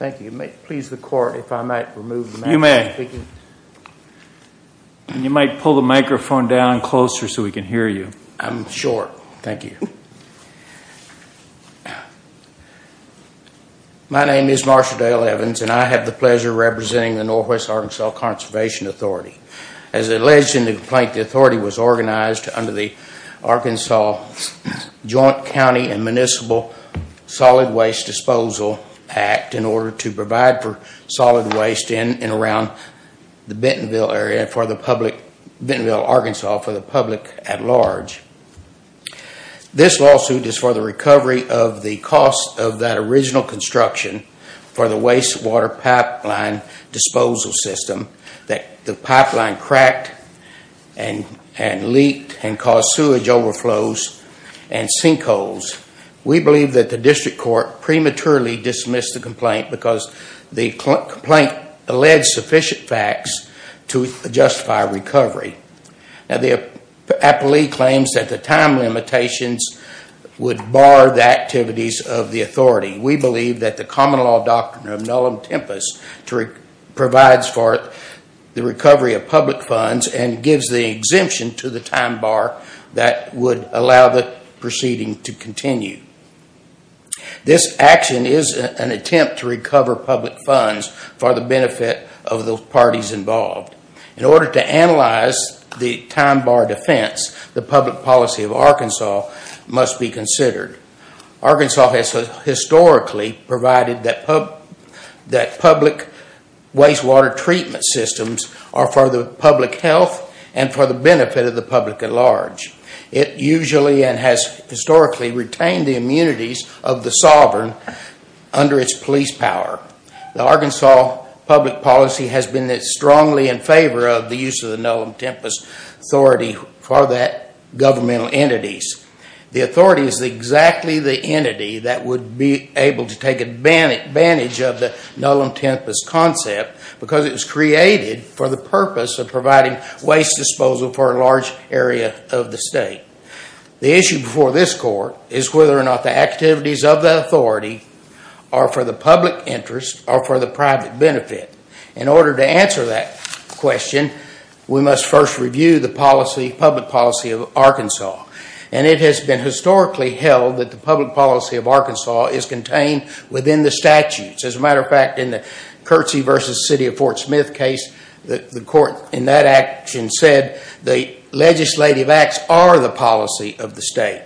Thank you. May it please the court if I might remove the microphone? You may. You might pull the microphone down closer so we can hear you. I'm short. Thank you. My name is Marshall Dale Evans and I have the pleasure of representing the Northwest Arkansas Conservation Authority. As alleged in the complaint, the authority was organized under the Arkansas Joint County and Municipal Solid Waste Disposal Act in order to provide for solid waste in and around the Bentonville area for the public, Bentonville, Arkansas for the public at large. This lawsuit is for the recovery of the cost of that original construction for the wastewater pipeline disposal system that the pipeline cracked and leaked and caused sewage overflows and sinkholes. We believe that the district court prematurely dismissed the complaint because the complaint alleged sufficient facts to justify recovery. The appellee claims that the time limitations would bar the activities of the authority. We believe that the common law doctrine of nullum tempus provides for the recovery of public funds and gives the exemption to the time bar that would allow the proceeding to continue. This action is an attempt to recover public funds for the benefit of the parties involved. In order to analyze the time bar defense, the public policy of Arkansas must be considered. Arkansas has historically provided that public wastewater treatment systems are for the public health and for the benefit of the public at large. It usually and has historically retained the immunities of the sovereign under its police power. The Arkansas public policy has been strongly in favor of the use of the nullum tempus authority for that governmental entities. The authority is exactly the entity that would be able to take advantage of the nullum tempus concept because it was created for the purpose of providing waste disposal for a large area of the state. The issue before this court is whether or not the activities of the authority are for the public interest or for the private benefit. In order to answer that question, we must first review the public policy of Arkansas. It has been historically held that the public policy of Arkansas is contained within the statutes. As a matter of fact, in the Curtsy v. City of Fort Smith case, the court in that action said the legislative acts are the policy of the state.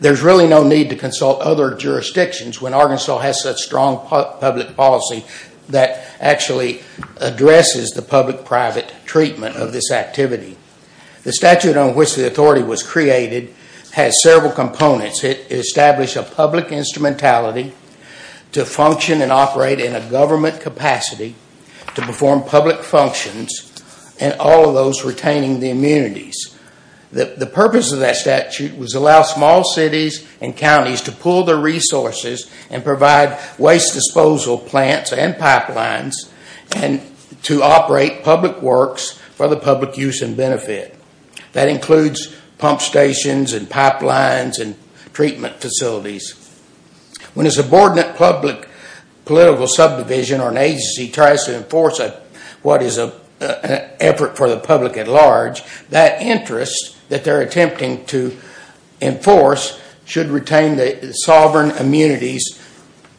There is really no need to consult other jurisdictions when Arkansas has such strong public policy that actually addresses the public-private treatment of this activity. The statute on which the authority was created has several components. It established a public instrumentality to function and operate in a government capacity to perform public functions and all of those retaining the immunities. The purpose of that statute was to allow small cities and counties to pool their resources and provide waste disposal plants and pipelines to operate public works for the public use and benefit. That includes pump stations and pipelines and treatment facilities. When a subordinate political subdivision or an agency tries to enforce what is an effort for the public at large, that interest that they are attempting to enforce should retain the sovereign immunities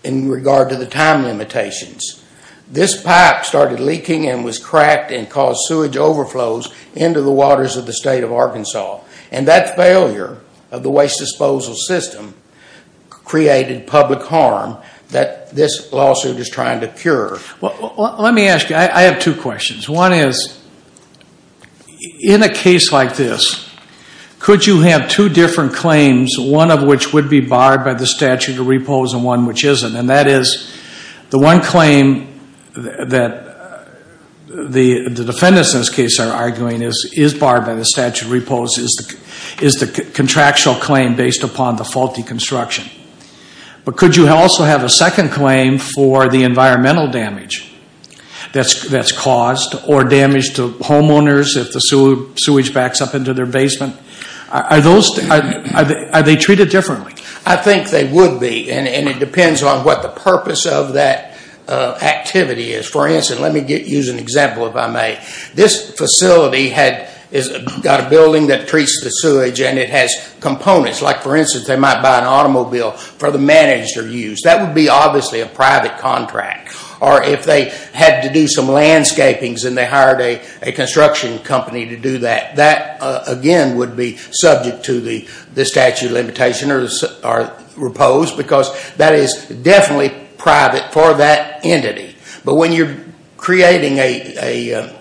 in regard to the time limitations. This pipe started leaking and was cracked and caused sewage overflows into the waters of the state of Arkansas. And that failure of the waste disposal system created public harm that this lawsuit is trying to cure. Let me ask you, I have two questions. One is, in a case like this, could you have two different claims, one of which would be barred by the statute of repose and one which isn't? And that is, the one claim that the defendants in this case are arguing is barred by the statute of repose is the contractual claim based upon the faulty construction. But could you also have a second claim for the environmental damage that is caused or damage to homeowners if the sewage backs up into their basement? Are they treated differently? I think they would be and it depends on what the purpose of that activity is. For instance, let me use an example if I may. This facility has got a building that treats the sewage and it has components. Like for instance, they might buy an automobile for the managed use. That would be obviously a private contract. Or if they had to do some landscaping and they hired a construction company to do that, that again would be subject to the statute of limitation or repose because that is definitely private for that entity. But when you're creating a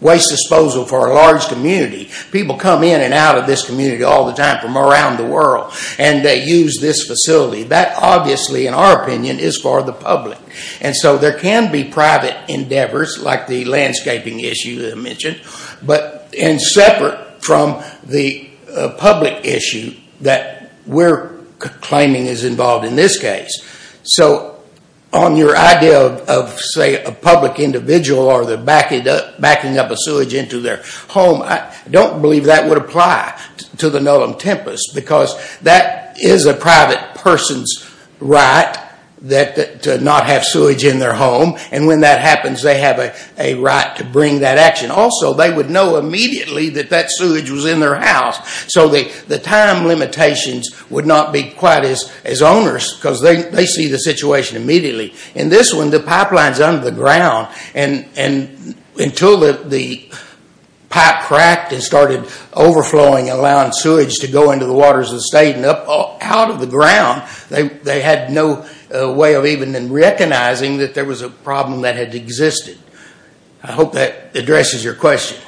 waste disposal for a large community, people come in and out of this community all the time from around the world and they use this facility. That obviously in our opinion is for the public. And so there can be private endeavors like the landscaping issue that I mentioned but in separate from the public issue that we're claiming is involved in this case. So on your idea of say a public individual or the backing up of sewage into their home, I don't believe that would apply to the Nullum Tempus because that is a private person's right to not have sewage in their home and when that happens they have a right to bring that action. Also, they would know immediately that that sewage was in their house. So the time limitations would not be quite as onerous because they see the situation immediately. In this one, the pipeline is under the ground and until the pipe cracked and started overflowing and allowing sewage to go into the waters of the state and up out of the ground, they had no way of even recognizing that there was a problem that had existed. I hope that addresses your question.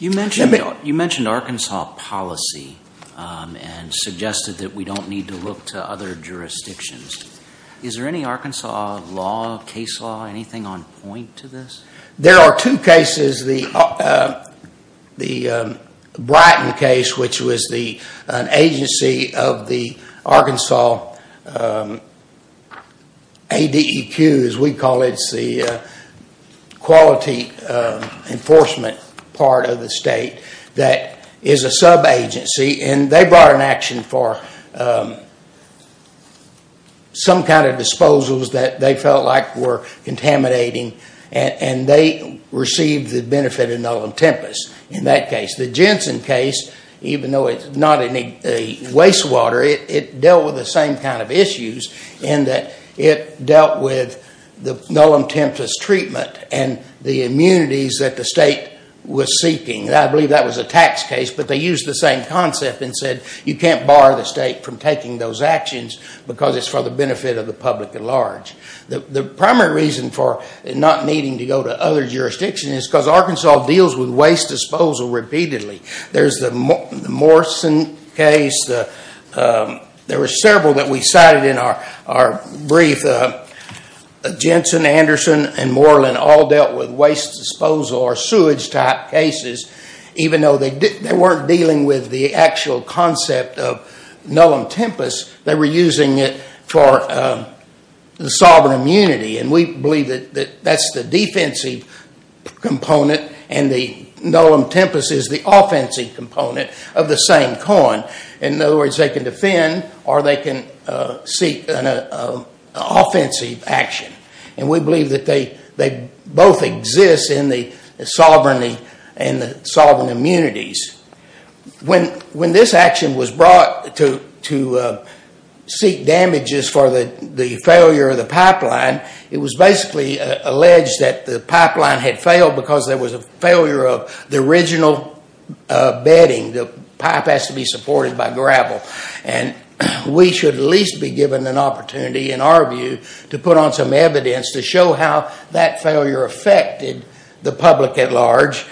You mentioned Arkansas policy and suggested that we don't need to look to other jurisdictions. Is there any Arkansas law, case law, anything on point to this? There are two cases. One is the Brighton case, which was an agency of the Arkansas ADEQ, as we call it, the Quality Enforcement part of the state, that is a sub-agency and they brought an action for some kind of disposals that they felt like were contaminating and they received the benefit of nullum tempus in that case. The Jensen case, even though it's not in a wastewater, it dealt with the same kind of issues in that it dealt with the nullum tempus treatment and the immunities that the state was seeking. I believe that was a tax case, but they used the same concept and said you can't bar the state from taking those actions because it's for the benefit of the public at large. The primary reason for not needing to go to other jurisdictions is because Arkansas deals with waste disposal repeatedly. There's the Morrison case. There were several that we cited in our brief. Jensen, Anderson, and Moreland all dealt with waste disposal or sewage type cases, even though they weren't dealing with the actual concept of nullum tempus. They were using it for the sovereign immunity and we believe that that's the defensive component and the nullum tempus is the offensive component of the same coin. In other words, they can defend or they can seek an offensive action. We believe that they both exist in the sovereign immunities. When this action was brought to seek damages for the failure of the pipeline, it was basically alleged that the pipeline had failed because there was a failure of the original bedding. The pipe has to be supported by gravel. We should at least be given an opportunity, in our view, to put on some evidence to show how that failure affected the public at large.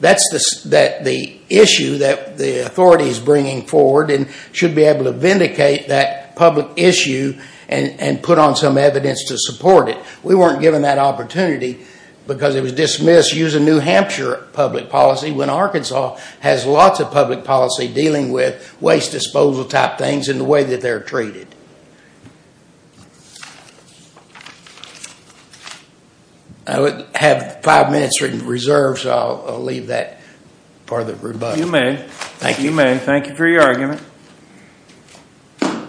That's the issue that the authority is bringing forward and should be able to vindicate that public issue and put on some evidence to support it. We weren't given that opportunity because it was dismissed using New Hampshire public policy when Arkansas has lots of public policy dealing with waste disposal type things and the way that they're treated. I have five minutes reserved, so I'll leave that part of the rebuttal. You may. Thank you. You may. Thank you for your argument. Thank you.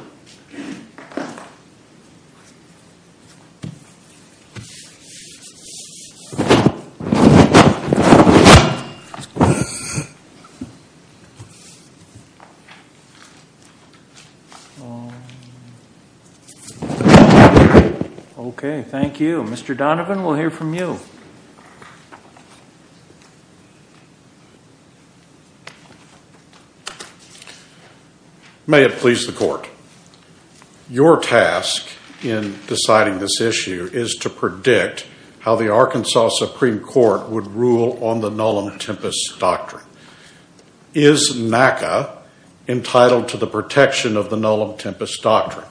Okay, thank you. May it please the court. Your task in deciding this issue is to predict how the Arkansas Supreme Court would rule on the Nolam Tempest Doctrine. Is NACA entitled to the protection of the Nolam Tempest Doctrine?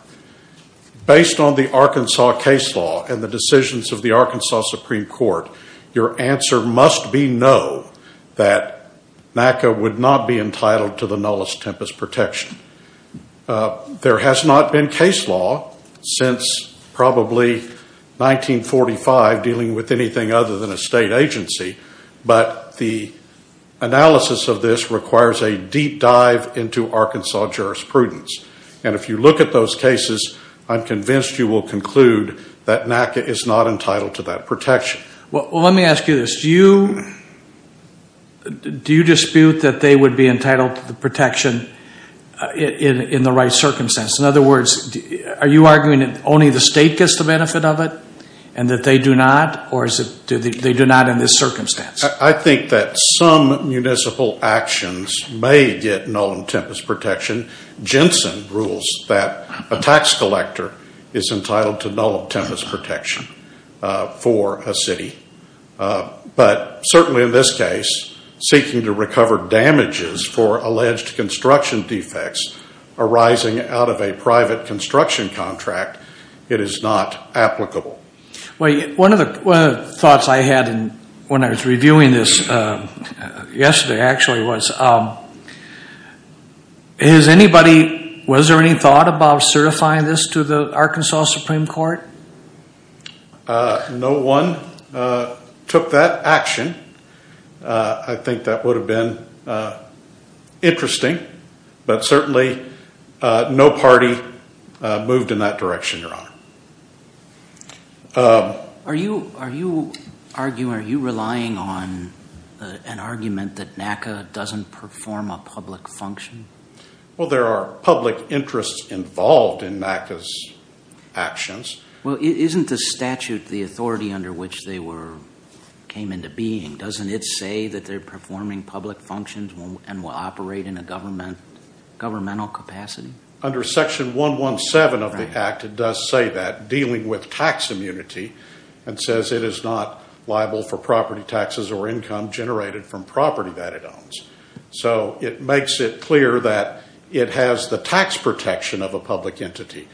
Based on the Arkansas case law and the decisions of the Arkansas Supreme Court, your answer must be no, that NACA would not be entitled to the Nolam Tempest Protection. There has not been case law since probably 1945 dealing with anything other than a state agency, but the analysis of this requires a deep dive into Arkansas jurisprudence. And if you look at those cases, I'm convinced you will conclude that NACA is not entitled to that protection. Well, let me ask you this. Do you dispute that they would be entitled to the protection in the right circumstance? In other words, are you arguing that only the state gets the benefit of it and that they do not, or they do not in this circumstance? I think that some municipal actions may get Nolam Tempest Protection. Jensen rules that a tax collector is entitled to Nolam Tempest Protection for a city. But certainly in this case, seeking to recover damages for alleged construction defects arising out of a private construction contract, it is not applicable. One of the thoughts I had when I was reviewing this yesterday actually was, was there any thought about certifying this to the Arkansas Supreme Court? No one took that action. I think that would have been interesting. But certainly no party moved in that direction, Your Honor. Are you relying on an argument that NACA doesn't perform a public function? Well, there are public interests involved in NACA's actions. Well, isn't the statute the authority under which they came into being? Doesn't it say that they're performing public functions and will operate in a governmental capacity? Under Section 117 of the Act, it does say that, dealing with tax immunity, and says it is not liable for property taxes or income generated from property that it owns. So it makes it clear that it has the tax protection of a public entity.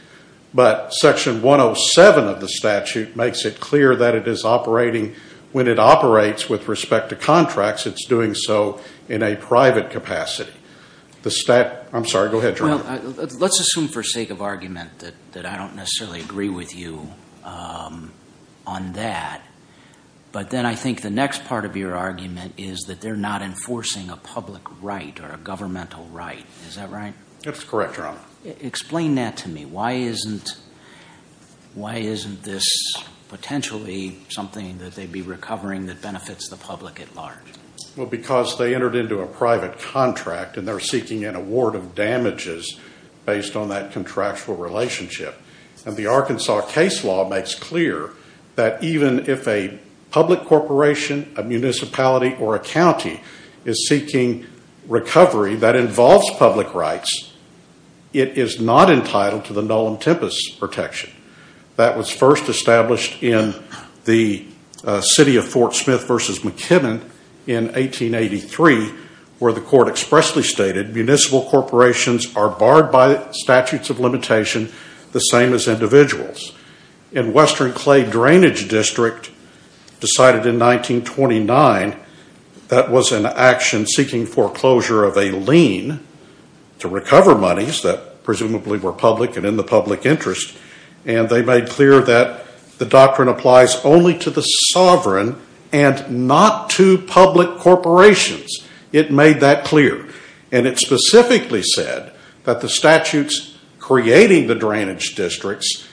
But Section 107 of the statute makes it clear that it is operating, when it operates with respect to contracts, it's doing so in a private capacity. I'm sorry, go ahead, Your Honor. Let's assume for sake of argument that I don't necessarily agree with you on that. But then I think the next part of your argument is that they're not enforcing a public right or a governmental right. Is that right? That's correct, Your Honor. Explain that to me. Why isn't this potentially something that they'd be recovering that benefits the public at large? Well, because they entered into a private contract, and they're seeking an award of damages based on that contractual relationship. And the Arkansas case law makes clear that even if a public corporation, a municipality, or a county is seeking recovery that involves public rights, it is not entitled to the Nolan-Tempest protection. That was first established in the city of Fort Smith v. McKibben in 1883, where the court expressly stated municipal corporations are barred by statutes of limitation, the same as individuals. And Western Clay Drainage District decided in 1929 that was an action seeking foreclosure of a lien to recover monies that presumably were public and in the public interest. And they made clear that the doctrine applies only to the sovereign and not to public corporations. It made that clear. And it specifically said that the statutes creating the drainage districts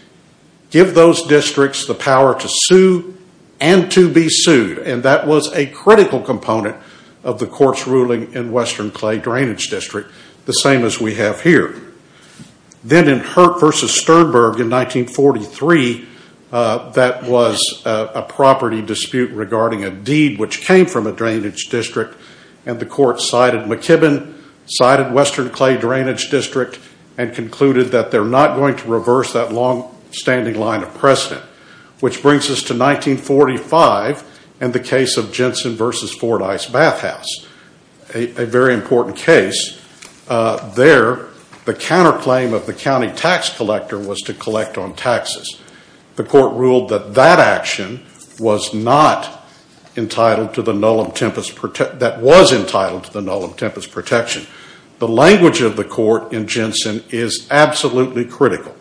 give those districts the power to sue and to be sued. And that was a critical component of the court's ruling in Western Clay Drainage District, the same as we have here. Then in Hurt v. Sternberg in 1943, that was a property dispute regarding a deed which came from a drainage district. And the court cited McKibben, cited Western Clay Drainage District, and concluded that they're not going to reverse that longstanding line of precedent. Which brings us to 1945 and the case of Jensen v. Fordyce Bathhouse, a very important case. There, the counterclaim of the county tax collector was to collect on taxes. The court ruled that that action was not entitled to the Null and Tempest, that was entitled to the Null and Tempest protection. The language of the court in Jensen is absolutely critical.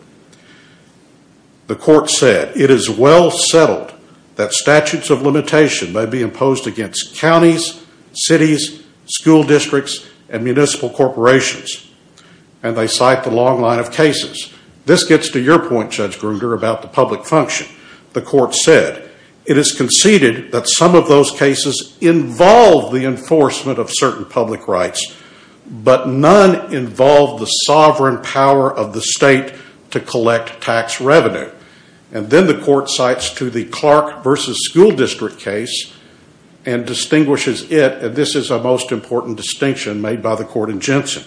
The court said, it is well settled that statutes of limitation may be imposed against counties, cities, school districts, and municipal corporations. And they cite the long line of cases. This gets to your point, Judge Grunder, about the public function. The court said, it is conceded that some of those cases involve the enforcement of certain public rights, but none involve the sovereign power of the state to collect tax revenue. And then the court cites to the Clark v. School District case and distinguishes it, and this is a most important distinction made by the court in Jensen.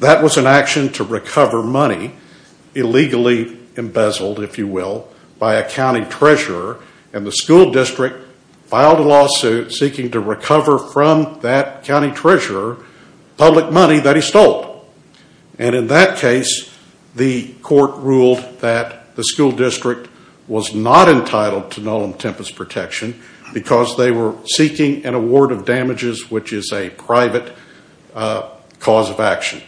That was an action to recover money illegally embezzled, if you will, by a county treasurer, and the school district filed a lawsuit seeking to recover from that county treasurer public money that he stole. And in that case, the court ruled that the school district was not entitled to Null and Tempest protection because they were seeking an award of damages, which is a private cause of action.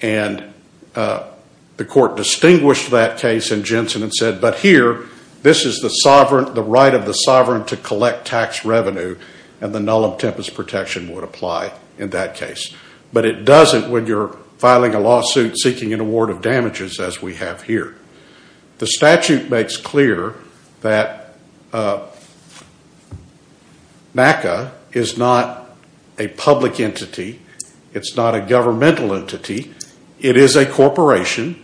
And the court distinguished that case in Jensen and said, but here, this is the right of the sovereign to collect tax revenue, and the Null and Tempest protection would apply in that case. But it doesn't when you're filing a lawsuit seeking an award of damages as we have here. The statute makes clear that NACA is not a public entity. It's not a governmental entity. It is a corporation.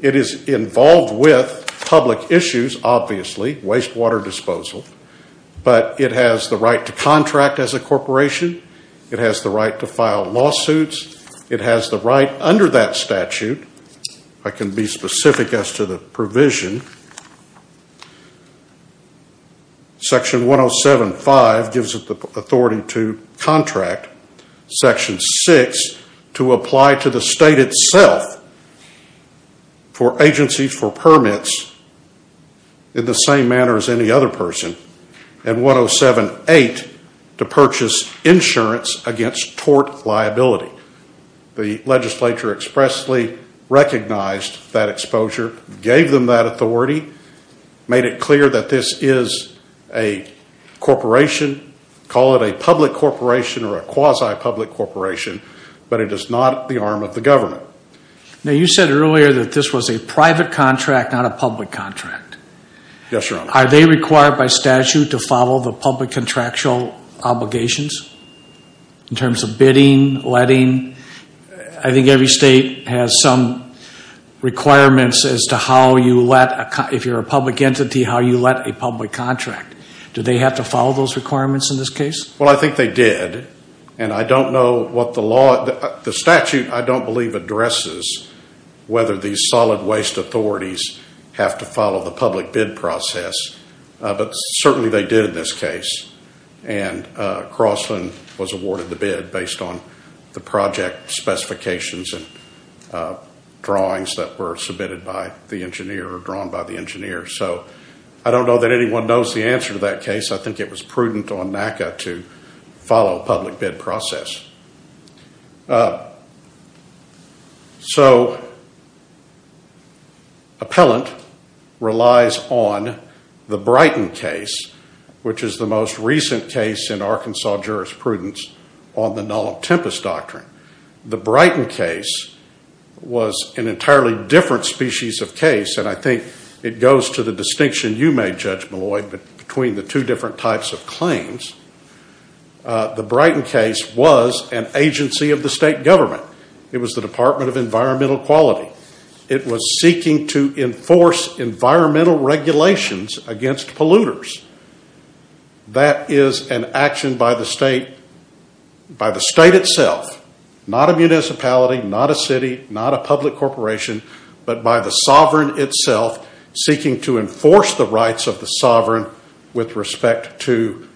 It is involved with public issues, obviously, wastewater disposal, but it has the right to contract as a corporation. It has the right to file lawsuits. It has the right under that statute. I can be specific as to the provision. Section 107.5 gives it the authority to contract. Section 6, to apply to the state itself for agencies for permits in the same manner as any other person. And 107.8, to purchase insurance against tort liability. The legislature expressly recognized that exposure, gave them that authority, made it clear that this is a corporation, call it a public corporation or a quasi-public corporation, but it is not the arm of the government. Now, you said earlier that this was a private contract, not a public contract. Yes, Your Honor. Are they required by statute to follow the public contractual obligations in terms of bidding, letting? I think every state has some requirements as to how you let, if you're a public entity, how you let a public contract. Do they have to follow those requirements in this case? Well, I think they did, and I don't know what the law, the statute I don't believe addresses whether these solid waste authorities have to follow the public bid process, but certainly they did in this case, and Crossland was awarded the bid based on the project specifications and drawings that were submitted by the engineer or drawn by the engineer. So I don't know that anyone knows the answer to that case. I think it was prudent on NACA to follow a public bid process. So appellant relies on the Brighton case, which is the most recent case in Arkansas jurisprudence on the Null and Tempest Doctrine. The Brighton case was an entirely different species of case, and I think it goes to the distinction you made, Judge Malloy, between the two different types of claims. The Brighton case was an agency of the state government. It was the Department of Environmental Quality. It was seeking to enforce environmental regulations against polluters. That is an action by the state itself, not a municipality, not a city, not a public corporation, but by the sovereign itself seeking to enforce the rights of the sovereign with respect to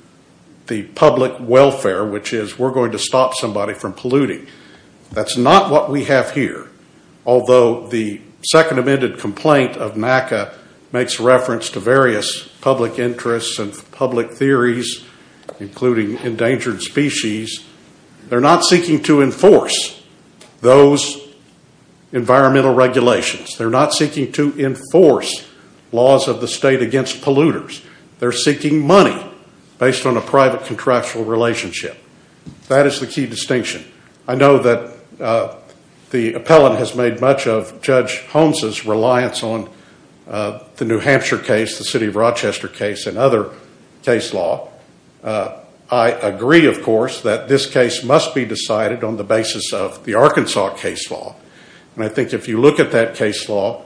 the public welfare, which is we're going to stop somebody from polluting. That's not what we have here, although the Second Amendment complaint of NACA makes reference to various public interests and public theories, including endangered species. They're not seeking to enforce those environmental regulations. They're not seeking to enforce laws of the state against polluters. They're seeking money based on a private contractual relationship. That is the key distinction. I know that the appellant has made much of Judge Holmes' reliance on the New Hampshire case, the city of Rochester case, and other case law. I agree, of course, that this case must be decided on the basis of the Arkansas case law, and I think if you look at that case law,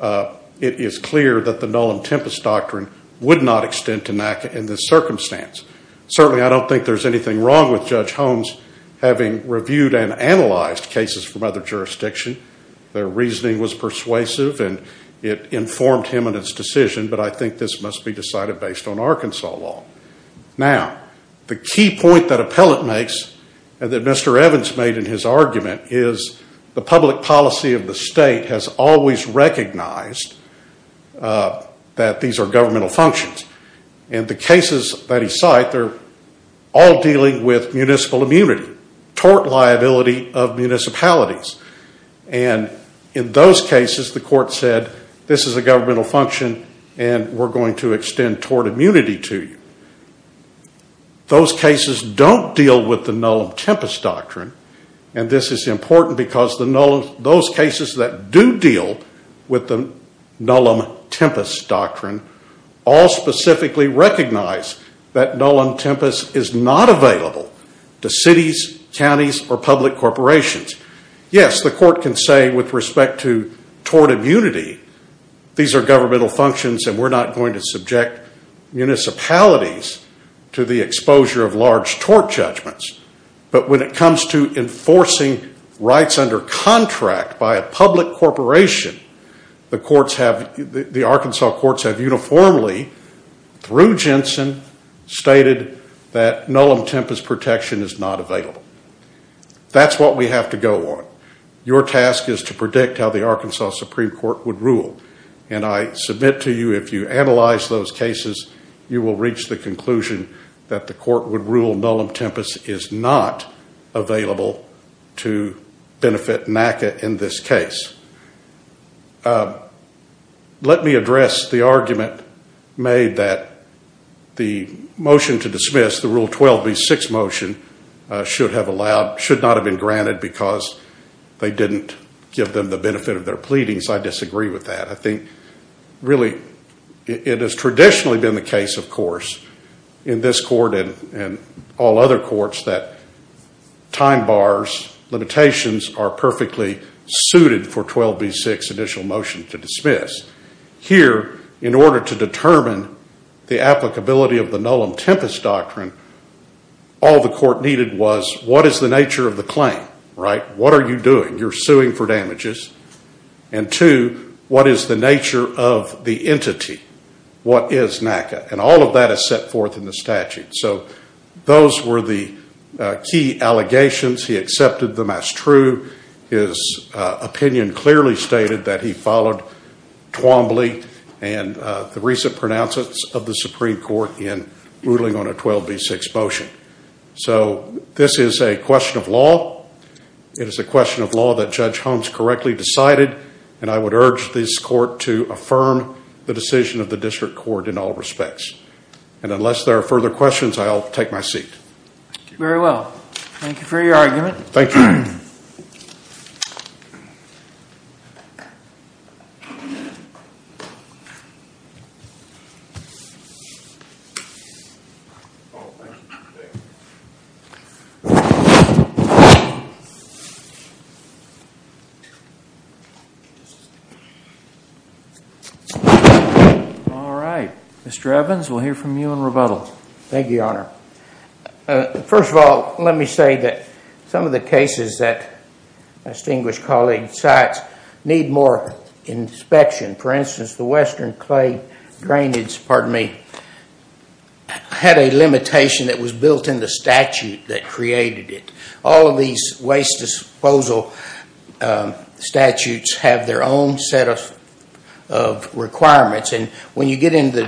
it is clear that the Nolen-Tempest Doctrine would not extend to NACA in this circumstance. Certainly, I don't think there's anything wrong with Judge Holmes having reviewed and analyzed cases from other jurisdictions. Their reasoning was persuasive, and it informed him in his decision, but I think this must be decided based on Arkansas law. Now, the key point that appellant makes, and that Mr. Evans made in his argument, is the public policy of the state has always recognized that these are governmental functions. In the cases that he cited, they're all dealing with municipal immunity, tort liability of municipalities. And in those cases, the court said, this is a governmental function, and we're going to extend tort immunity to you. Those cases don't deal with the Nolen-Tempest Doctrine, and this is important because those cases that do deal with the Nolen-Tempest Doctrine all specifically recognize that Nolen-Tempest is not available to cities, counties, or public corporations. Yes, the court can say with respect to tort immunity, these are governmental functions and we're not going to subject municipalities to the exposure of large tort judgments, but when it comes to enforcing rights under contract by a public corporation, the Arkansas courts have uniformly, through Jensen, stated that Nolen-Tempest protection is not available. That's what we have to go on. Your task is to predict how the Arkansas Supreme Court would rule, and I submit to you if you analyze those cases, you will reach the conclusion that the court would rule Nolen-Tempest is not available to benefit NACA in this case. Let me address the argument made that the motion to dismiss, the Rule 12b6 motion, should not have been granted because they didn't give them the benefit of their pleadings. I disagree with that. I think, really, it has traditionally been the case, of course, in this court and all other courts, that time bars, limitations are perfectly suited for 12b6 initial motion to dismiss. Here, in order to determine the applicability of the Nolen-Tempest doctrine, all the court needed was what is the nature of the claim, right? What are you doing? You're suing for damages. And two, what is the nature of the entity? What is NACA? And all of that is set forth in the statute. So those were the key allegations. He accepted them as true. His opinion clearly stated that he followed Twombly and the recent pronouncements of the Supreme Court in ruling on a 12b6 motion. So this is a question of law. It is a question of law that Judge Holmes correctly decided, and I would urge this court to affirm the decision of the district court in all respects. And unless there are further questions, I'll take my seat. Very well. Thank you for your argument. Thank you. Thank you. All right. Mr. Evans, we'll hear from you in rebuttal. Thank you, Your Honor. First of all, let me say that some of the cases that my distinguished colleague cites need more inspection. For instance, the Western Clay Drainage had a limitation that was built in the statute that created it. All of these waste disposal statutes have their own set of requirements, and when you get into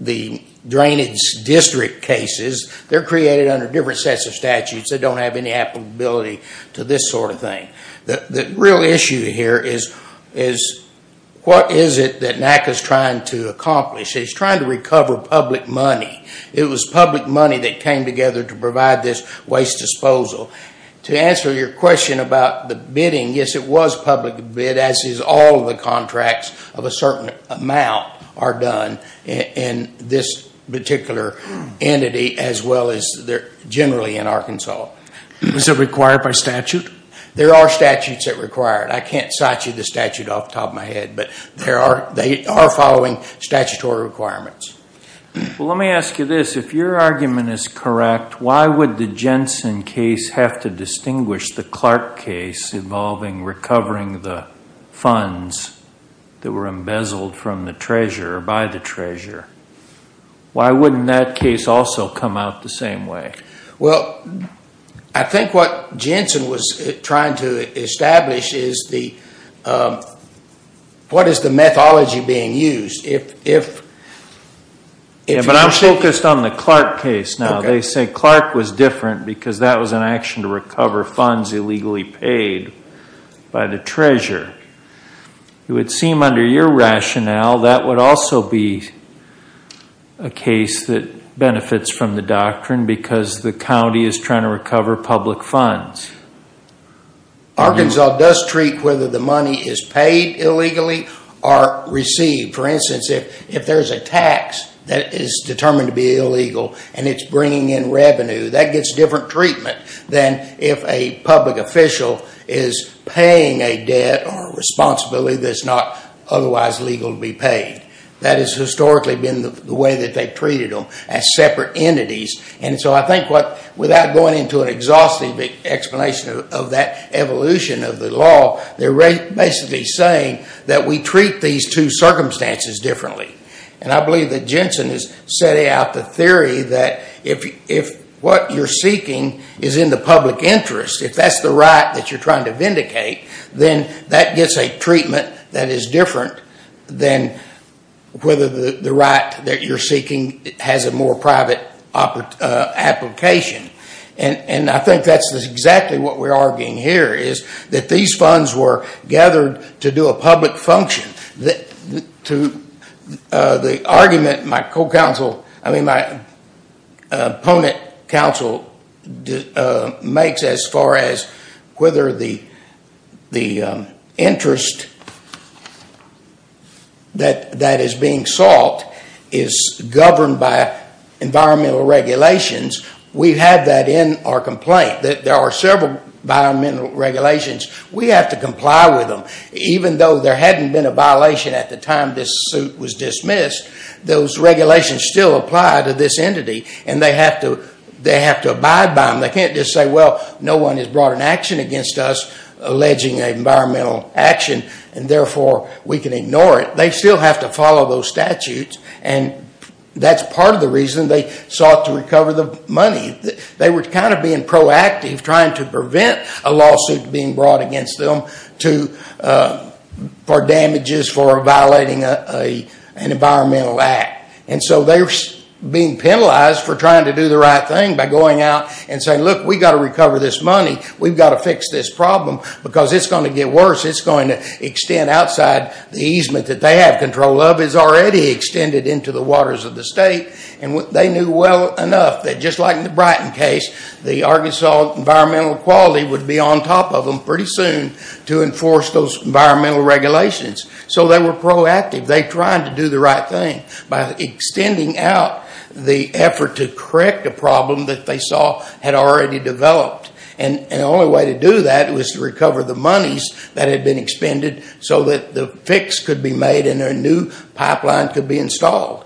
the drainage district cases, they're created under different sets of statutes. They don't have any applicability to this sort of thing. The real issue here is what is it that NACA is trying to accomplish? It's trying to recover public money. It was public money that came together to provide this waste disposal. To answer your question about the bidding, yes, it was public bid, as is all the contracts of a certain amount are done in this particular entity as well as generally in Arkansas. Is it required by statute? There are statutes that require it. I can't cite you the statute off the top of my head, but they are following statutory requirements. Well, let me ask you this. If your argument is correct, why would the Jensen case have to distinguish the Clark case involving recovering the funds that were embezzled from the treasurer or by the treasurer? Why wouldn't that case also come out the same way? Well, I think what Jensen was trying to establish is what is the methodology being used? But I'm focused on the Clark case now. They say Clark was different because that was an action to recover funds illegally paid by the treasurer. It would seem under your rationale that would also be a case that benefits from the doctrine because the county is trying to recover public funds. Arkansas does treat whether the money is paid illegally or received. For instance, if there is a tax that is determined to be illegal and it's bringing in revenue, that gets different treatment than if a public official is paying a debt or responsibility that's not otherwise legal to be paid. That has historically been the way that they've treated them as separate entities. And so I think without going into an exhaustive explanation of that evolution of the law, they're basically saying that we treat these two circumstances differently. And I believe that Jensen is setting out the theory that if what you're seeking is in the public interest, if that's the right that you're trying to vindicate, then that gets a treatment that is different than whether the right that you're seeking has a more private application. And I think that's exactly what we're arguing here, is that these funds were gathered to do a public function. The argument my opponent counsel makes as far as whether the interest that is being sought is governed by environmental regulations, we've had that in our complaint. There are several environmental regulations. We have to comply with them. Even though there hadn't been a violation at the time this suit was dismissed, those regulations still apply to this entity and they have to abide by them. They can't just say, well, no one has brought an action against us alleging environmental action and therefore we can ignore it. They still have to follow those statutes and that's part of the reason they sought to recover the money. They were kind of being proactive trying to prevent a lawsuit being brought against them for damages for violating an environmental act. And so they were being penalized for trying to do the right thing by going out and saying, look, we've got to recover this money. We've got to fix this problem because it's going to get worse. It's going to extend outside the easement that they have control of. It's already extended into the waters of the state. They knew well enough that just like in the Brighton case, the Arkansas Environmental Quality would be on top of them pretty soon to enforce those environmental regulations. So they were proactive. They tried to do the right thing by extending out the effort to correct a problem that they saw had already developed. And the only way to do that was to recover the monies that had been expended so that the fix could be made and a new pipeline could be installed.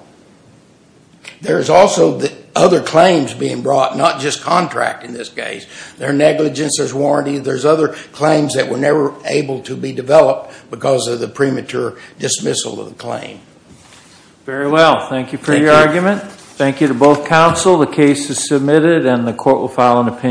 There's also other claims being brought, not just contract in this case. There's negligence, there's warranty. There's other claims that were never able to be developed because of the premature dismissal of the claim. Very well. Thank you for your argument. Thank you to both counsel. The case is submitted and the court will file an opinion.